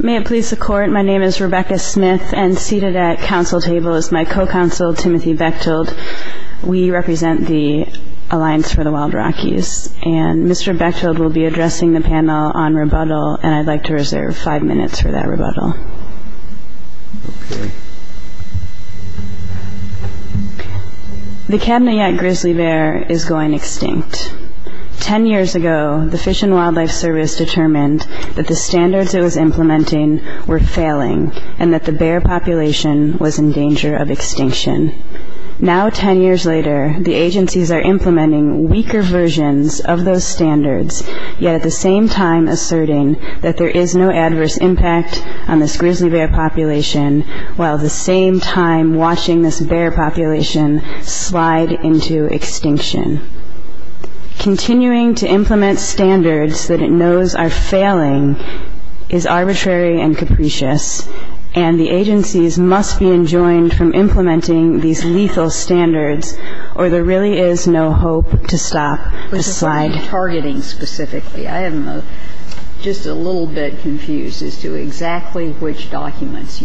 May it please the Court, my name is Rebecca Smith and seated at council table is my co-counsel, Timothy Bechtold. We represent the Alliance for the Wild Rockies and Mr. Bechtold will be addressing the panel on rebuttal and I'd like to reserve five minutes for that rebuttal. The Cabinet Yacht Grizzly Bear is going extinct. Ten years ago, the Fish and Wildlife Service determined that the standards it was implementing were failing and that the bear population was in danger of extinction. Now, ten years later, the agencies are implementing weaker versions of those standards, yet at the same time asserting that there is no adverse impact on this grizzly bear population, while at the same time watching this bear population slide into extinction. Continuing to implement standards that it knows are failing is arbitrary and capricious and the agencies must be enjoined from implementing these lethal standards or there really is no hope to stop the slide. But just on targeting specifically, I am just a little bit confused as to exactly which standards.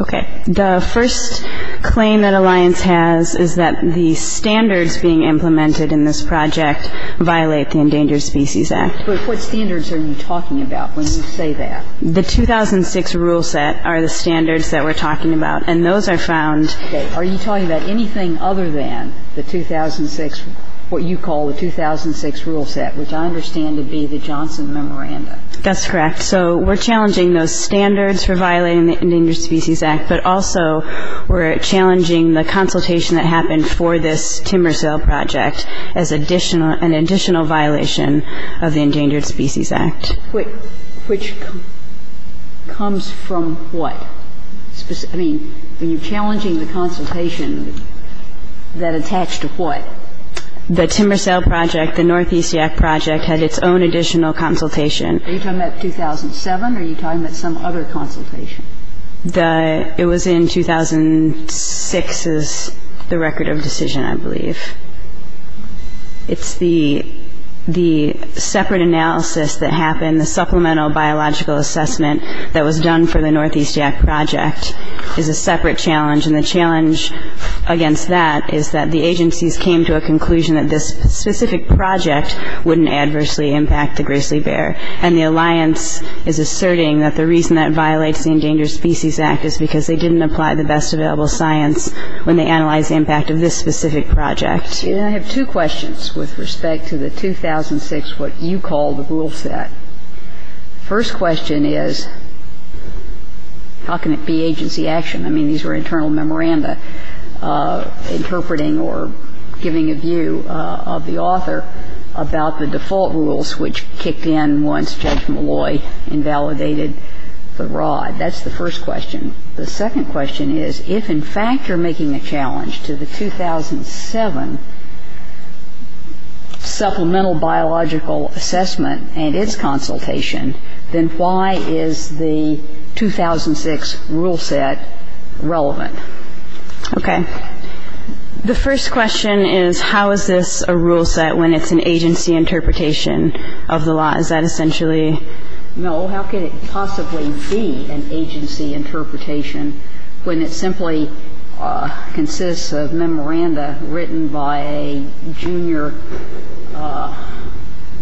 Okay. The first claim that Alliance has is that the standards being implemented in this project violate the Endangered Species Act. But what standards are you talking about when you say that? The 2006 rule set are the standards that we're talking about and those are found Okay. Are you talking about anything other than the 2006, what you call the 2006 rule set, which I understand to be the Johnson Memoranda? That's correct. So we're challenging those standards for violating the Endangered Species Act, but also we're challenging the consultation that happened for this timber sale project as additional, an additional violation of the Endangered Species Act. Which comes from what? I mean, when you're challenging the consultation, that attached to what? The timber sale project, the Northeast Act project, had its own additional consultation. Are you talking about 2007 or are you talking about some other consultation? It was in 2006 is the record of decision, I believe. It's the separate analysis that happened, the supplemental biological assessment that was done for the Northeast Act project is a separate challenge. And the challenge against that is that the agencies came to a conclusion that this specific project wouldn't adversely impact the grizzly bear. And the alliance is asserting that the reason that violates the Endangered Species Act is because they didn't apply the best available science when they analyzed the impact of this specific project. And I have two questions with respect to the 2006, what you call the rule set. First question is how can it be agency action? I mean, these were internal memoranda interpreting or giving a view of the author about the default rules which kicked in once Judge Malloy invalidated the rod. That's the first question. The second question is if, in fact, you're making a challenge to the 2007 supplemental biological assessment and its consultation, then why is the 2006 rule set relevant? Okay. The first question is how is this a rule set when it's an agency interpretation of the law? Is that essentially? No. How can it possibly be an agency interpretation when it simply consists of memoranda written by a junior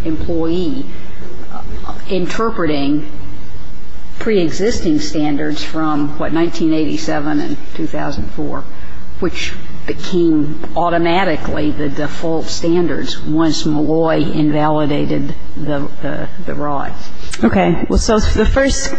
employee interpreting preexisting standards from, what, 1987 and 2004, which became automatically the default standards once Malloy invalidated the rod? Okay. So the first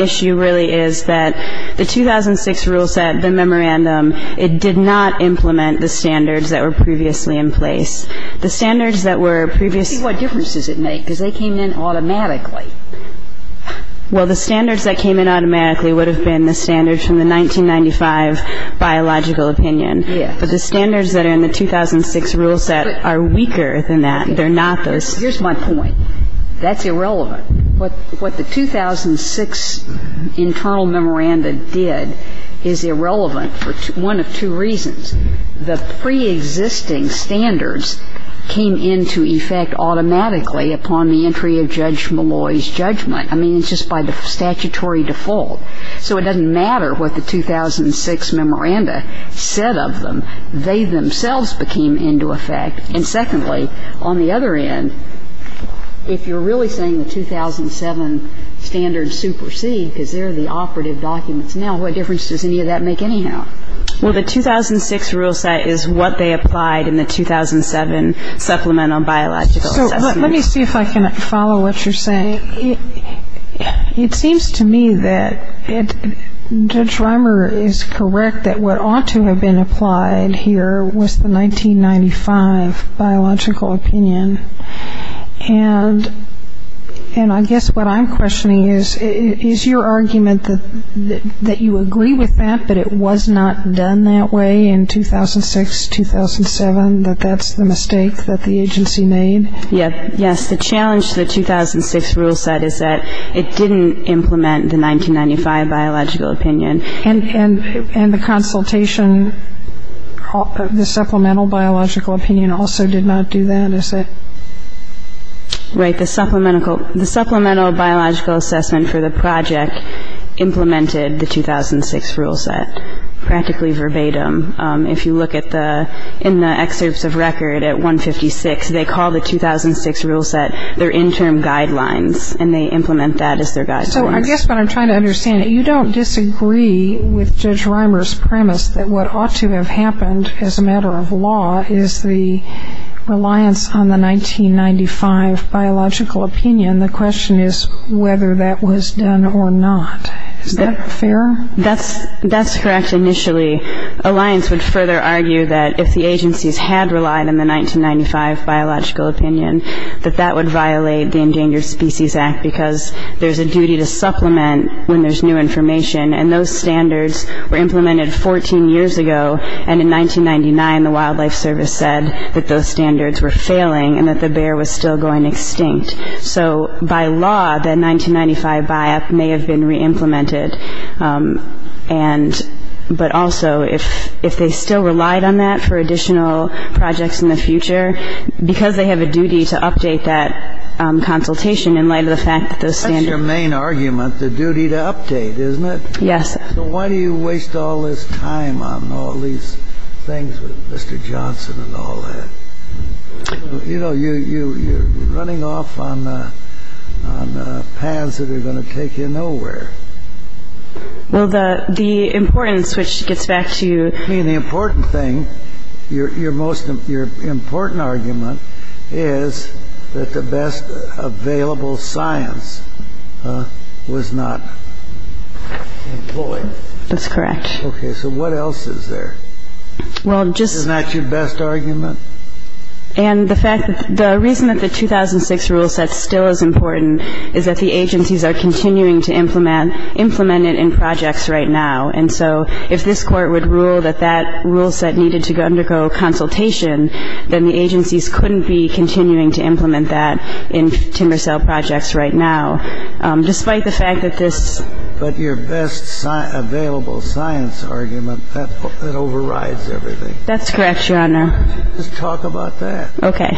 issue really is that the 2006 rule set, the memorandum, it did not implement the standards that were previously in place. The standards that were previously What difference does it make? Because they came in automatically. Well, the standards that came in automatically would have been the standards from the 1995 biological opinion. Yes. But the standards that are in the 2006 rule set are weaker than that. They're not those Here's my point. That's irrelevant. What the 2006 internal memoranda did is irrelevant for one of two reasons. The preexisting standards came into effect automatically upon the entry of Judge Malloy's judgment. I mean, it's just by the statutory default. So it doesn't matter what the 2006 memoranda said of them. They themselves became into effect. And secondly, on the other end, if you're really saying the 2007 standards supersede because they're the operative documents now, what difference does any of that make anyhow? Well, the 2006 rule set is what they applied in the 2007 supplemental biological assessment. So let me see if I can follow what you're saying. It seems to me that Judge Rimer is correct that what ought to have been applied here was the 1995 biological opinion. And I guess what I'm questioning is, is your argument that you agree with that, but it was not done that way in 2006, 2007, that that's the mistake that the agency made? Yes. The challenge to the 2006 rule set is that it didn't implement the 1995 biological opinion. And the consultation, the supplemental biological opinion also did not do that, is it? Right. The supplemental biological assessment for the project implemented the 2006 rule set, practically verbatim. If you look at the, in the excerpts of record at 156, they call the 2006 rule set their interim guidelines, and they implement that as their guidelines. So I guess what I'm trying to understand, you don't disagree with Judge Rimer's premise that what ought to have happened as a matter of law is the reliance on the 1995 biological opinion. The question is whether that was done or not. Is that fair? That's correct, initially. Alliance would further argue that if the agencies had relied on the 1995 biological opinion, that that would violate the Endangered Species Act, because there's a duty to supplement when there's new information. And those standards were implemented 14 years ago, and in 1999, the Wildlife Service said that those standards were failing and that the bear was still going extinct. So by law, that 1995 buy-up may have been re-implemented. And, but also, if they still relied on that for additional projects in the future, because they have a duty to update that consultation in light of the fact that those standards... That's your main argument, the duty to update, isn't it? Yes. So why do you waste all this time on all these things with Mr. Johnson and all that? You know, you're running off on paths that are going to take you nowhere. Well, the importance, which gets back to... I mean, the important thing, your most, your important argument is that the best available science was not employed. That's correct. Okay, so what else is there? Well, just... Isn't that your best argument? And the fact that the reason that the 2006 rule set still is important is that the agencies are continuing to implement it in projects right now. And so if this Court would rule that that rule set needed to undergo consultation, then the agencies couldn't be continuing to implement that in timber sale projects right now, despite the fact that this... But your best available science argument, that overrides everything. That's correct, Your Honor. Just talk about that. Okay.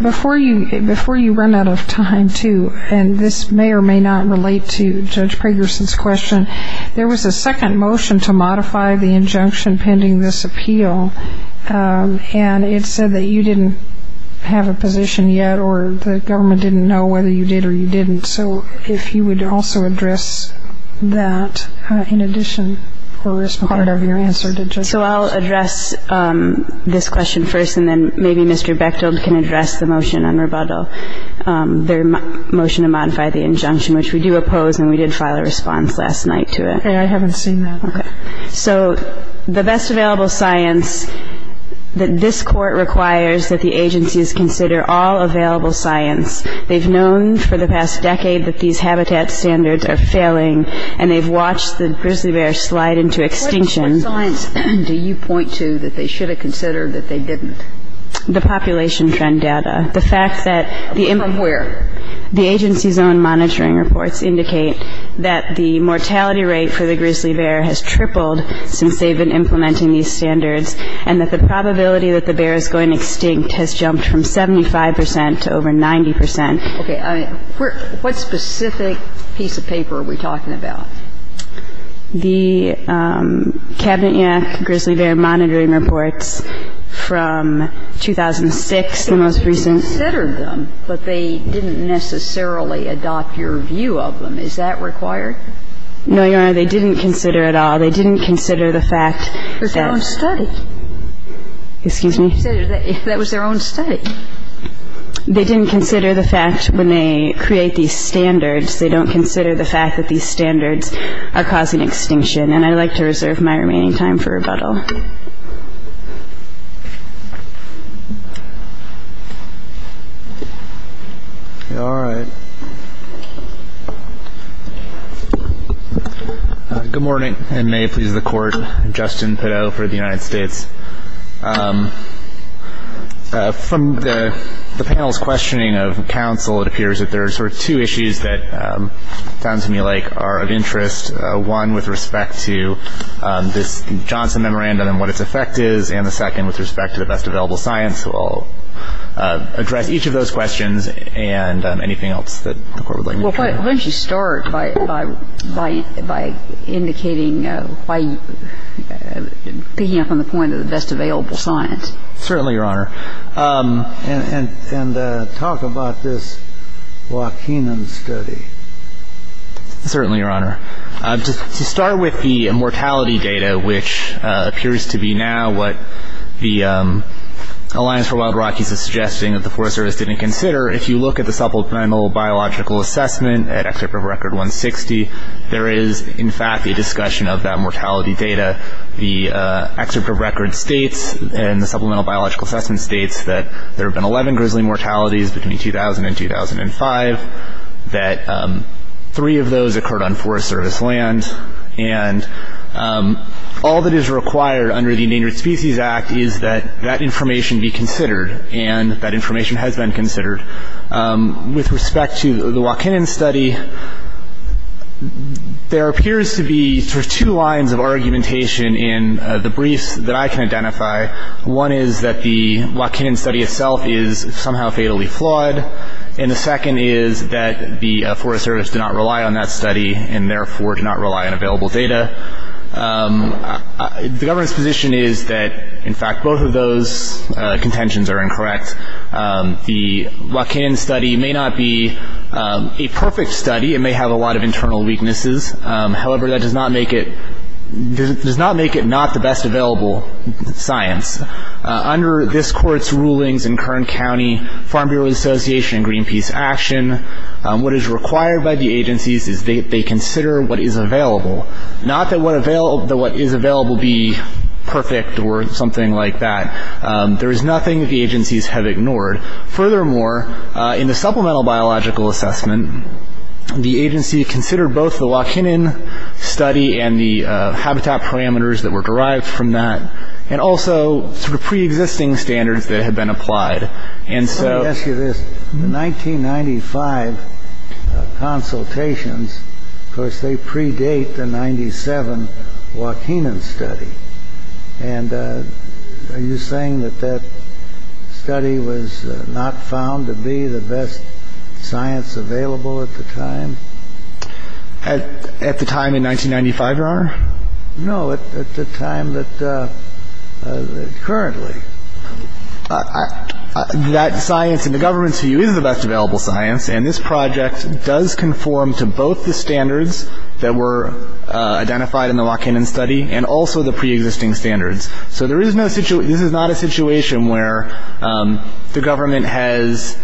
Before you run out of time, too, and this may or may not relate to Judge Pragerson's question, there was a second motion to modify the injunction pending this appeal, and it said that you didn't have a position yet or the government didn't know whether you did or you didn't. So if you would also address that in addition for this part of your answer to Judge Pragerson. Okay. So I'll address this question first, and then maybe Mr. Bechtold can address the motion on rebuttal, their motion to modify the injunction, which we do oppose, and we did file a response last night to it. Okay. I haven't seen that. Okay. So the best available science that this Court requires that the agencies consider all available science. They've known for the past decade that these habitat standards are failing, and they've watched the grizzly bear slide into extinction. What science do you point to that they should have considered that they didn't? The population trend data. The fact that the important From where? The agency's own monitoring reports indicate that the mortality rate for the grizzly bear has tripled since they've been implementing these standards, and that the probability that the bear is going extinct has jumped from 75 percent to over 90 percent. Okay. What specific piece of paper are we talking about? The Cabinet-UNAC grizzly bear monitoring reports from 2006, the most recent But they considered them, but they didn't necessarily adopt your view of them. Is that required? No, Your Honor, they didn't consider it at all. They didn't consider the fact that It was their own study. Excuse me? That was their own study. They didn't consider the fact when they create these standards, they don't consider the fact that these standards are causing extinction. And I'd like to reserve my remaining time for rebuttal. All right. Good morning, and may it please the Court. I'm Justin Pideaux for the United States. From the panel's questioning of counsel, it appears that there are sort of two issues that sound to me like are of interest, one with respect to this Johnson Memorandum and what its effect is, and the second with respect to the best available science. So I'll address each of those questions and anything else that the Court would like me to do. Why don't you start by indicating, by picking up on the point of the best available science. Certainly, Your Honor. And talk about this Joaquinan study. Certainly, Your Honor. To start with the mortality data, which appears to be now what the Alliance for Wild Rockies is suggesting that the Forest Service didn't consider, if you look at the Supplemental Biological Assessment at Excerpt of Record 160, there is, in fact, a discussion of that mortality data. The Excerpt of Record states and the Supplemental Biological Assessment states that there have been 11 grizzly mortalities between 2000 and 2005, that three of those occurred on Forest Service land, and all that is required under the Endangered Species Act is that that information be considered, and that information has been considered. With respect to the Joaquinan study, there appears to be two lines of argumentation in the briefs that I can identify. One is that the Joaquinan study itself is somehow fatally flawed, and the second is that the Forest Service did not rely on that study and therefore did not rely on available data. The government's position is that, in fact, both of those contentions are incorrect. The Joaquinan study may not be a perfect study. It may have a lot of internal weaknesses. However, that does not make it not the best available science. Under this Court's rulings in Kern County Farm Bureau Association Greenpeace Action, what is required by the agencies is they consider what is available, not that what is available be perfect or something like that. There is nothing that the agencies have ignored. Furthermore, in the Supplemental Biological Assessment, the agency considered both the Joaquinan study and the habitat parameters that were derived from that and also sort of preexisting standards that had been applied. And so- Let me ask you this. The 1995 consultations, of course, they predate the 1997 Joaquinan study. And are you saying that that study was not found to be the best science available at the time? At the time in 1995, Your Honor? No, at the time that currently. That science in the government's view is the best available science, and this project does conform to both the standards that were identified in the Joaquinan study and also the preexisting standards. So this is not a situation where the government has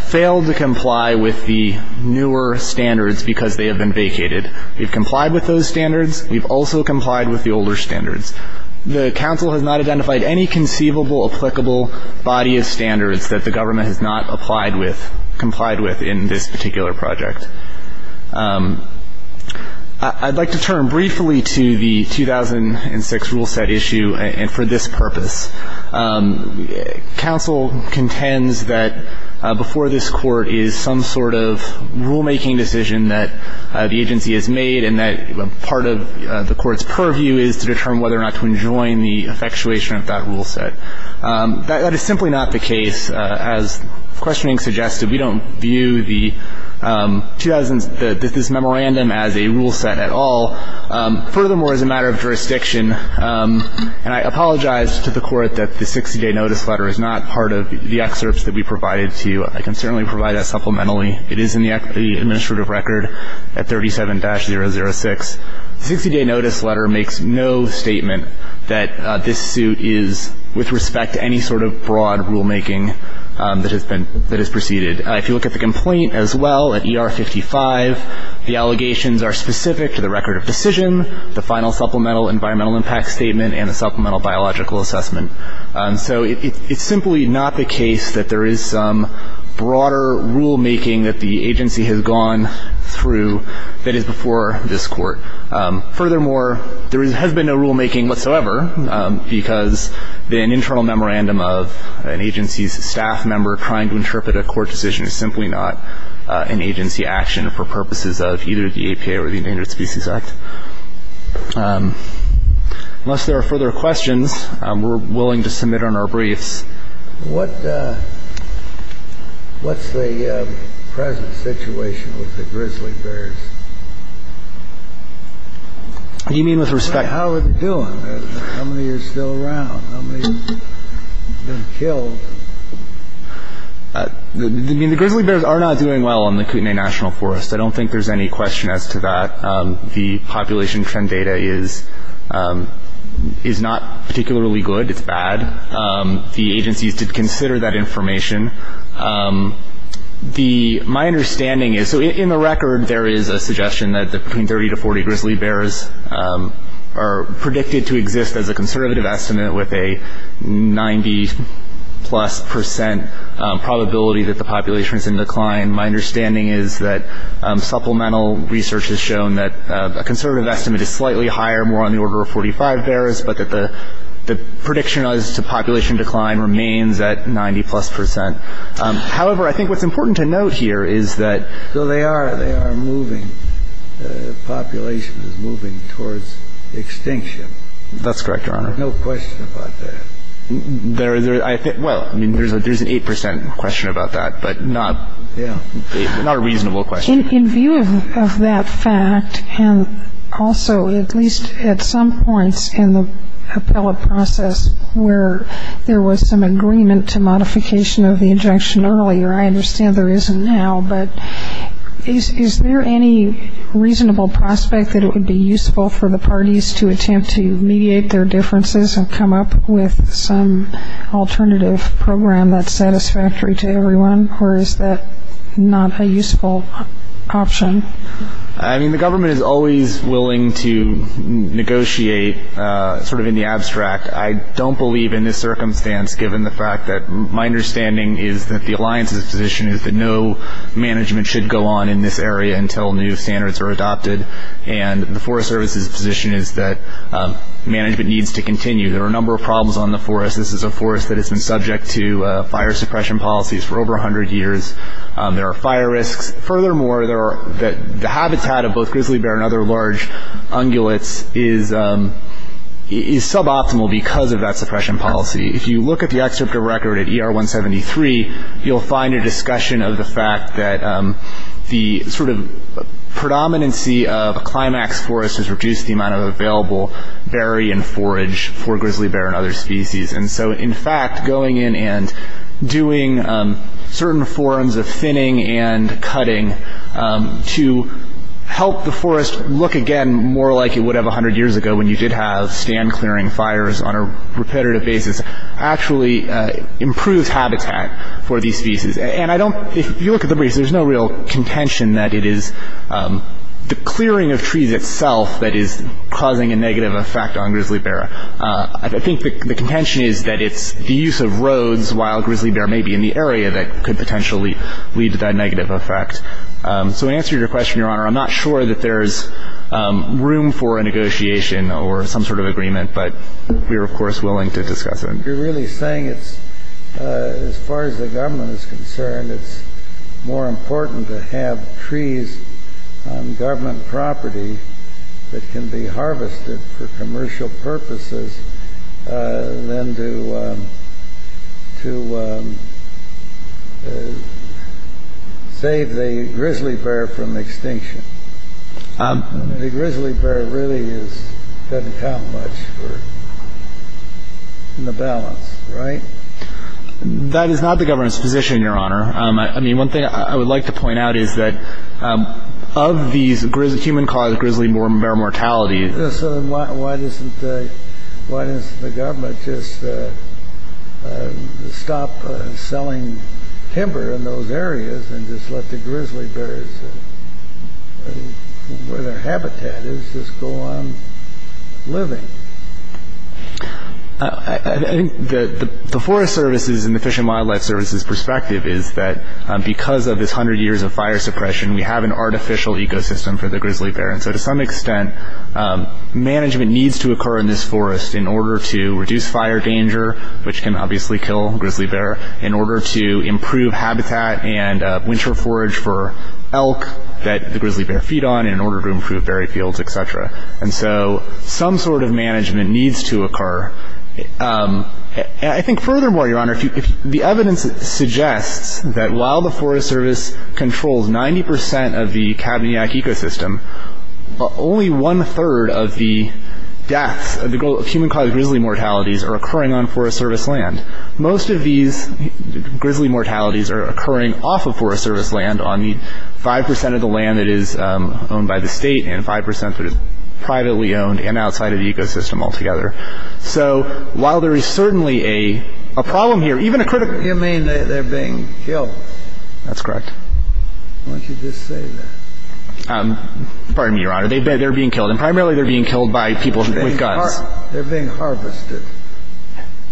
failed to comply with the newer standards because they have been vacated. We've complied with those standards. We've also complied with the older standards. The counsel has not identified any conceivable applicable body of standards that the government has not applied with, complied with in this particular project. I'd like to turn briefly to the 2006 rule set issue and for this purpose. Counsel contends that before this Court is some sort of rulemaking decision that the agency has made and that part of the Court's purview is to determine whether or not to enjoin the effectuation of that rule set. That is simply not the case. As questioning suggested, we don't view this memorandum as a rule set at all. Furthermore, as a matter of jurisdiction, and I apologize to the Court that the 60-day notice letter is not part of the excerpts that we provided to you. I can certainly provide that supplementally. It is in the administrative record at 37-006. The 60-day notice letter makes no statement that this suit is with respect to any sort of broad rulemaking that has been that has proceeded. If you look at the complaint as well at ER 55, the allegations are specific to the record of decision, the final supplemental environmental impact statement, and the supplemental biological assessment. So it's simply not the case that there is some broader rulemaking that the agency has gone through that is before this Court. Furthermore, there has been no rulemaking whatsoever because an internal memorandum of an agency's staff member trying to interpret a Court decision is simply not an agency action for purposes of either the APA or the Endangered Species Act. Unless there are further questions, we're willing to submit on our briefs. What's the present situation with the grizzly bears? What do you mean with respect? How are they doing? How many are still around? How many have been killed? I mean, the grizzly bears are not doing well in the Kootenai National Forest. I don't think there's any question as to that. The population trend data is not particularly good. It's bad. The agencies did consider that information. My understanding is, so in the record, there is a suggestion that between 30 to 40 grizzly bears are predicted to exist as a conservative estimate with a 90-plus percent probability that the population is in decline. My understanding is that supplemental research has shown that a conservative estimate is slightly higher, more on the order of 45 bears, but that the prediction as to population decline remains at 90-plus percent. However, I think what's important to note here is that though they are moving, the population is moving towards extinction. That's correct, Your Honor. There's no question about that. Well, I mean, there's an 8 percent question about that, but not a reasonable question. In view of that fact, and also at least at some points in the appellate process where there was some agreement to modification of the injection earlier, I understand there isn't now, but is there any reasonable prospect that it would be useful for the parties to attempt to mediate their differences and come up with some alternative program that's satisfactory to everyone, or is that not a useful option? I mean, the government is always willing to negotiate sort of in the abstract. I don't believe in this circumstance, given the fact that my understanding is that the Alliance's position is that no management should go on in this area until new standards are adopted, and the Forest Service's position is that management needs to continue. There are a number of problems on the forest. This is a forest that has been subject to fire suppression policies for over 100 years. There are fire risks. Furthermore, the habitat of both grizzly bear and other large ungulates is suboptimal because of that suppression policy. If you look at the excerpt of a record at ER 173, you'll find a discussion of the fact that the sort of predominance of a climax forest has reduced the amount of available berry and forage for grizzly bear and other species. And so in fact, going in and doing certain forms of thinning and cutting to help the forest look again more like it would have 100 years ago when you did have stand-clearing fires on a repetitive basis actually improves habitat for these species. And I don't – if you look at the briefs, there's no real contention that it is the clearing of trees itself that is causing a negative effect on grizzly bear. I think the contention is that it's the use of roads while grizzly bear may be in the area that could potentially lead to that negative effect. So to answer your question, Your Honor, I'm not sure that there's room for a negotiation or some sort of agreement, but we are, of course, willing to discuss it. You're really saying it's – as far as the government is concerned, it's more important to have trees on government property that can be harvested for commercial purposes than to save the grizzly bear from extinction. The grizzly bear really is – doesn't count much for – in the balance, right? That is not the government's position, Your Honor. I mean, one thing I would like to point out is that of these human-caused grizzly bear mortalities – So then why doesn't the government just stop selling timber in those areas and just let the grizzly bears, where their habitat is, just go on living? I think the Forest Service's and the Fish and Wildlife Service's perspective is that because of this hundred years of fire suppression, we have an artificial ecosystem for the grizzly bear. And so to some extent, management needs to occur in this forest in order to reduce fire danger, which can obviously kill grizzly bear, in order to improve habitat and winter forage for elk that the grizzly bear feed on, in order to improve berry fields, et cetera. And so some sort of management needs to occur. And I think furthermore, Your Honor, the evidence suggests that while the Forest Service controls 90 percent of the Kabanyak ecosystem, only one-third of the deaths of human-caused grizzly mortalities are occurring on Forest Service land. Most of these grizzly mortalities are occurring off of Forest Service land on the 5 percent of the land that is owned by the state and 5 percent that is privately owned and outside of the ecosystem altogether. So while there is certainly a problem here, even a critical – You mean they're being killed? That's correct. Why don't you just say that? Pardon me, Your Honor. They're being killed. And primarily, they're being killed by people with guns. They're being harvested.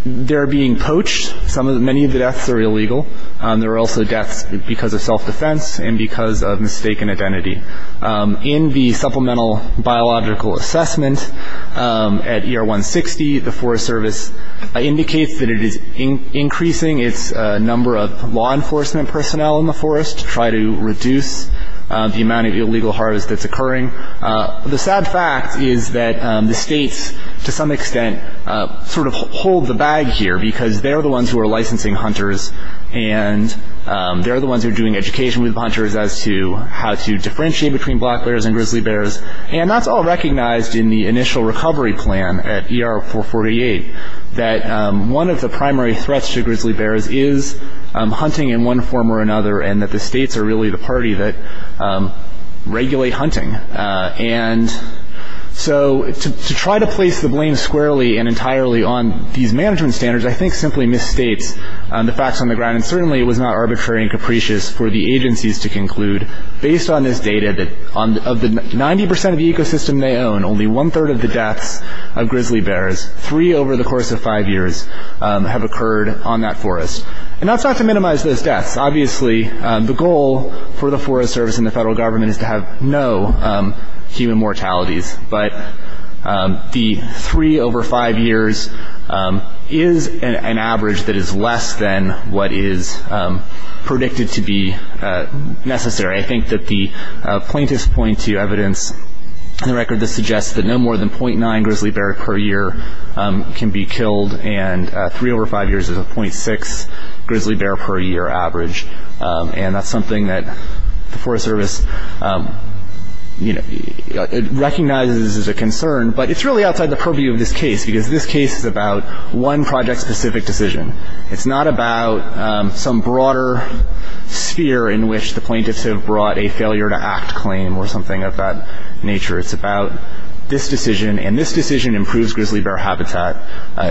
They're being poached. Many of the deaths are illegal. There are also deaths because of self-defense and because of mistaken identity. In the Supplemental Biological Assessment at ER 160, the Forest Service indicates that it is increasing its number of law enforcement personnel in the forest to try to reduce the amount of illegal harvest that's occurring. The sad fact is that the states, to some extent, sort of hold the bag here because they're the ones who are licensing hunters and they're the ones who are doing education with hunters as to how to differentiate between black bears and grizzly bears. And that's all recognized in the initial recovery plan at ER 448, that one of the primary threats to grizzly bears is hunting in one form or another and that the states are really the party that regulate hunting. And so to try to place the blame squarely and entirely on these management standards, I think simply misstates the facts on the ground. And certainly it was not arbitrary and capricious for the agencies to conclude, based on this data, that of the 90 percent of the ecosystem they own, only one-third of the deaths of grizzly bears, three over the course of five years, have occurred on that forest. And that's not to minimize those deaths. Obviously, the goal for the Forest Service and the federal government is to have no human mortalities. But the three over five years is an average that is less than what is predicted to be necessary. I think that the plaintiffs point to evidence in the record that suggests that no more than .9 grizzly bear per year can be killed and three over five years is a .6 grizzly bear per year average. And that's something that the Forest Service recognizes as a concern, but it's really outside the purview of this case because this case is about one project-specific decision. It's not about some broader sphere in which the plaintiffs have brought a failure-to-act claim or something of that nature. It's about this decision, and this decision improves grizzly bear habitat,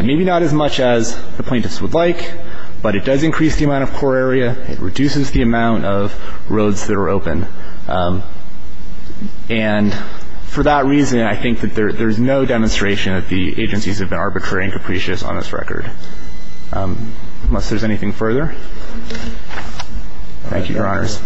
maybe not as much as the plaintiffs would like, but it does increase the amount of core area, it reduces the amount of roads that are open. And for that reason, I think that there's no demonstration that the agencies have been arbitrary and capricious on this record. Unless there's anything further? Thank you, Your Honors.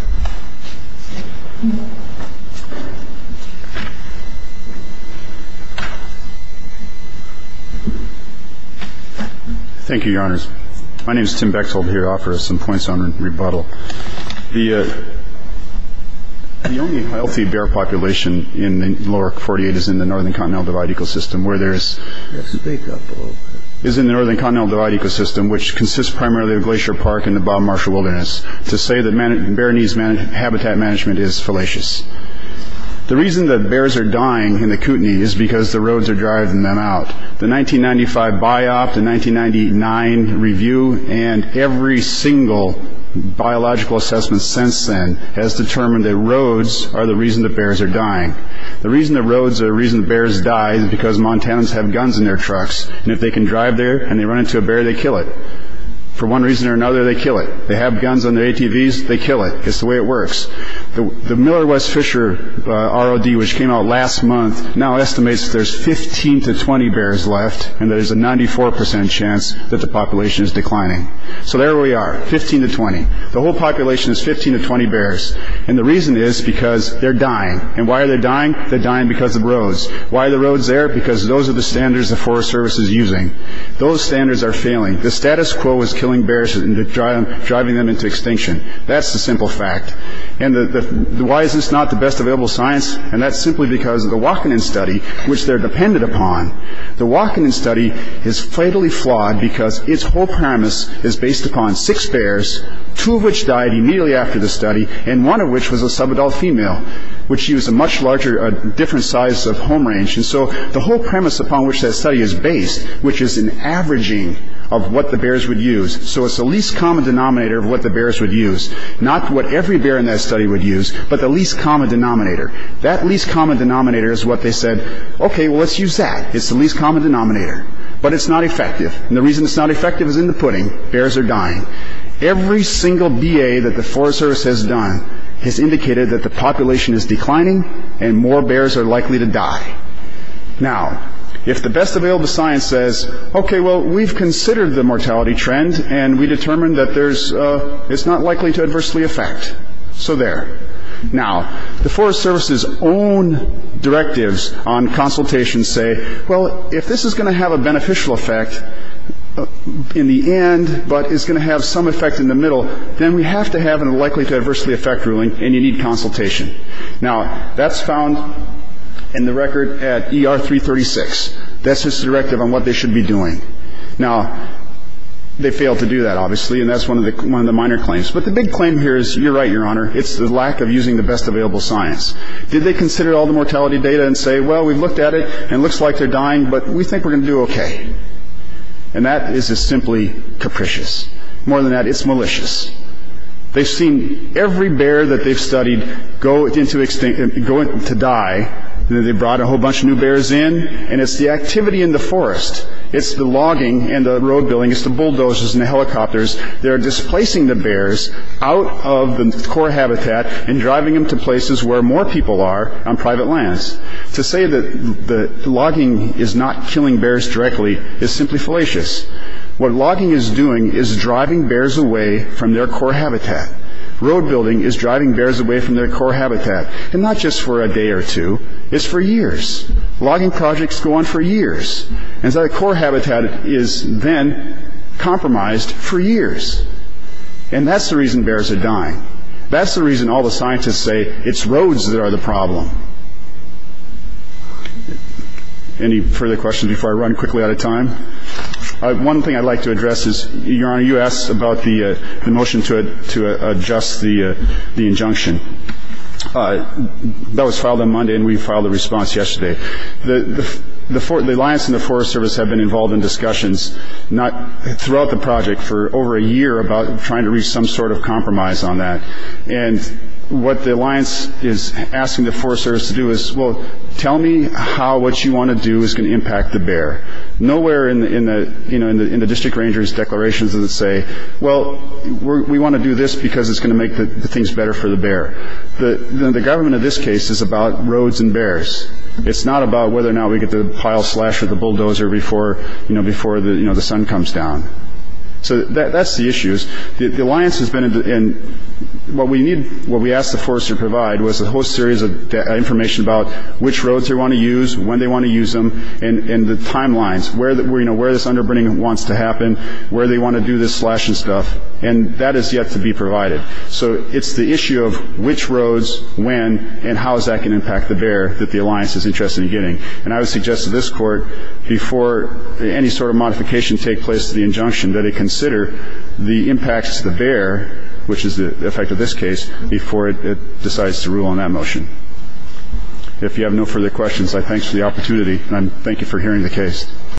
Thank you, Your Honors. My name is Tim Bechtold. Here are some points on rebuttal. The only healthy bear population in the lower 48 is in the Northern Continental Divide ecosystem, where there is in the Northern Continental Divide ecosystem, which consists primarily of Glacier Park and the Bob Marshall Wilderness. To say that bear needs habitat management is fallacious. The reason that bears are dying in the Kootenai is because the roads are driving them out. The 1995 biop, the 1999 review, and every single biological assessment since then has determined that roads are the reason that bears are dying. The reason that roads are the reason that bears die is because Montanans have guns in their trucks, and if they can drive there and they run into a bear, they kill it. For one reason or another, they kill it. They have guns on their ATVs, they kill it. It's the way it works. The Miller West Fisher ROD, which came out last month, now estimates that there's 15 to 20 bears left, and there's a 94% chance that the population is declining. So there we are, 15 to 20. The whole population is 15 to 20 bears, and the reason is because they're dying. And why are they dying? They're dying because of roads. Why are the roads there? Because those are the standards the Forest Service is using. Those standards are failing. The status quo is killing bears and driving them into extinction. That's the simple fact. And why is this not the best available science? And that's simply because of the Wakanen study, which they're dependent upon. The Wakanen study is fatally flawed because its whole premise is based upon six bears, two of which died immediately after the study, and one of which was a subadult female, which used a much larger, different size of home range. And so the whole premise upon which that study is based, which is an averaging of what the bears would use. So it's the least common denominator of what the bears would use, not what every bear in that study would use, but the least common denominator. That least common denominator is what they said, okay, well, let's use that. It's the least common denominator. But it's not effective. And the reason it's not effective is in the pudding. Bears are dying. Every single BA that the Forest Service has done has indicated that the population is declining, and more bears are likely to die. Now, if the best available science says, okay, well, we've considered the mortality trend, and we determined that it's not likely to adversely affect. So there. Now, the Forest Service's own directives on consultation say, well, if this is going to have a beneficial effect in the end, but is going to have some effect in the middle, then we have to have an unlikely to adversely affect ruling, and you need consultation. Now, that's found in the record at ER336. That's just a directive on what they should be doing. Now, they failed to do that, obviously, and that's one of the minor claims. But the big claim here is, you're right, Your Honor, it's the lack of using the best available science. Did they consider all the mortality data and say, well, we've looked at it, and it looks like they're dying, but we think we're going to do okay. And that is simply capricious. More than that, it's malicious. They've seen every bear that they've studied going to die. They brought a whole bunch of new bears in, and it's the activity in the forest. It's the logging and the road building. It's the bulldozers and the helicopters that are displacing the bears out of the core habitat and driving them to places where more people are on private lands. To say that logging is not killing bears directly is simply fallacious. What logging is doing is driving bears away from their core habitat. Road building is driving bears away from their core habitat. And not just for a day or two. It's for years. Logging projects go on for years. And so the core habitat is then compromised for years. And that's the reason bears are dying. Any further questions before I run quickly out of time? One thing I'd like to address is, Your Honor, you asked about the motion to adjust the injunction. That was filed on Monday, and we filed a response yesterday. The Alliance and the Forest Service have been involved in discussions throughout the project for over a year about trying to reach some sort of compromise on that. And what the Alliance is asking the Forest Service to do is, Well, tell me how what you want to do is going to impact the bear. Nowhere in the district ranger's declarations does it say, Well, we want to do this because it's going to make things better for the bear. The government in this case is about roads and bears. It's not about whether or not we get the pile slasher or the bulldozer before the sun comes down. So that's the issues. The Alliance has been in the end. What we need, what we asked the Forest Service to provide was a whole series of information about which roads they want to use, when they want to use them, and the timelines, where this underburning wants to happen, where they want to do this slashing stuff. And that is yet to be provided. So it's the issue of which roads, when, and how that can impact the bear that the Alliance is interested in getting. And I would suggest to this Court, before any sort of modification takes place to the injunction, that it consider the impacts to the bear, which is the effect of this case, before it decides to rule on that motion. If you have no further questions, I thank you for the opportunity, and I thank you for hearing the case.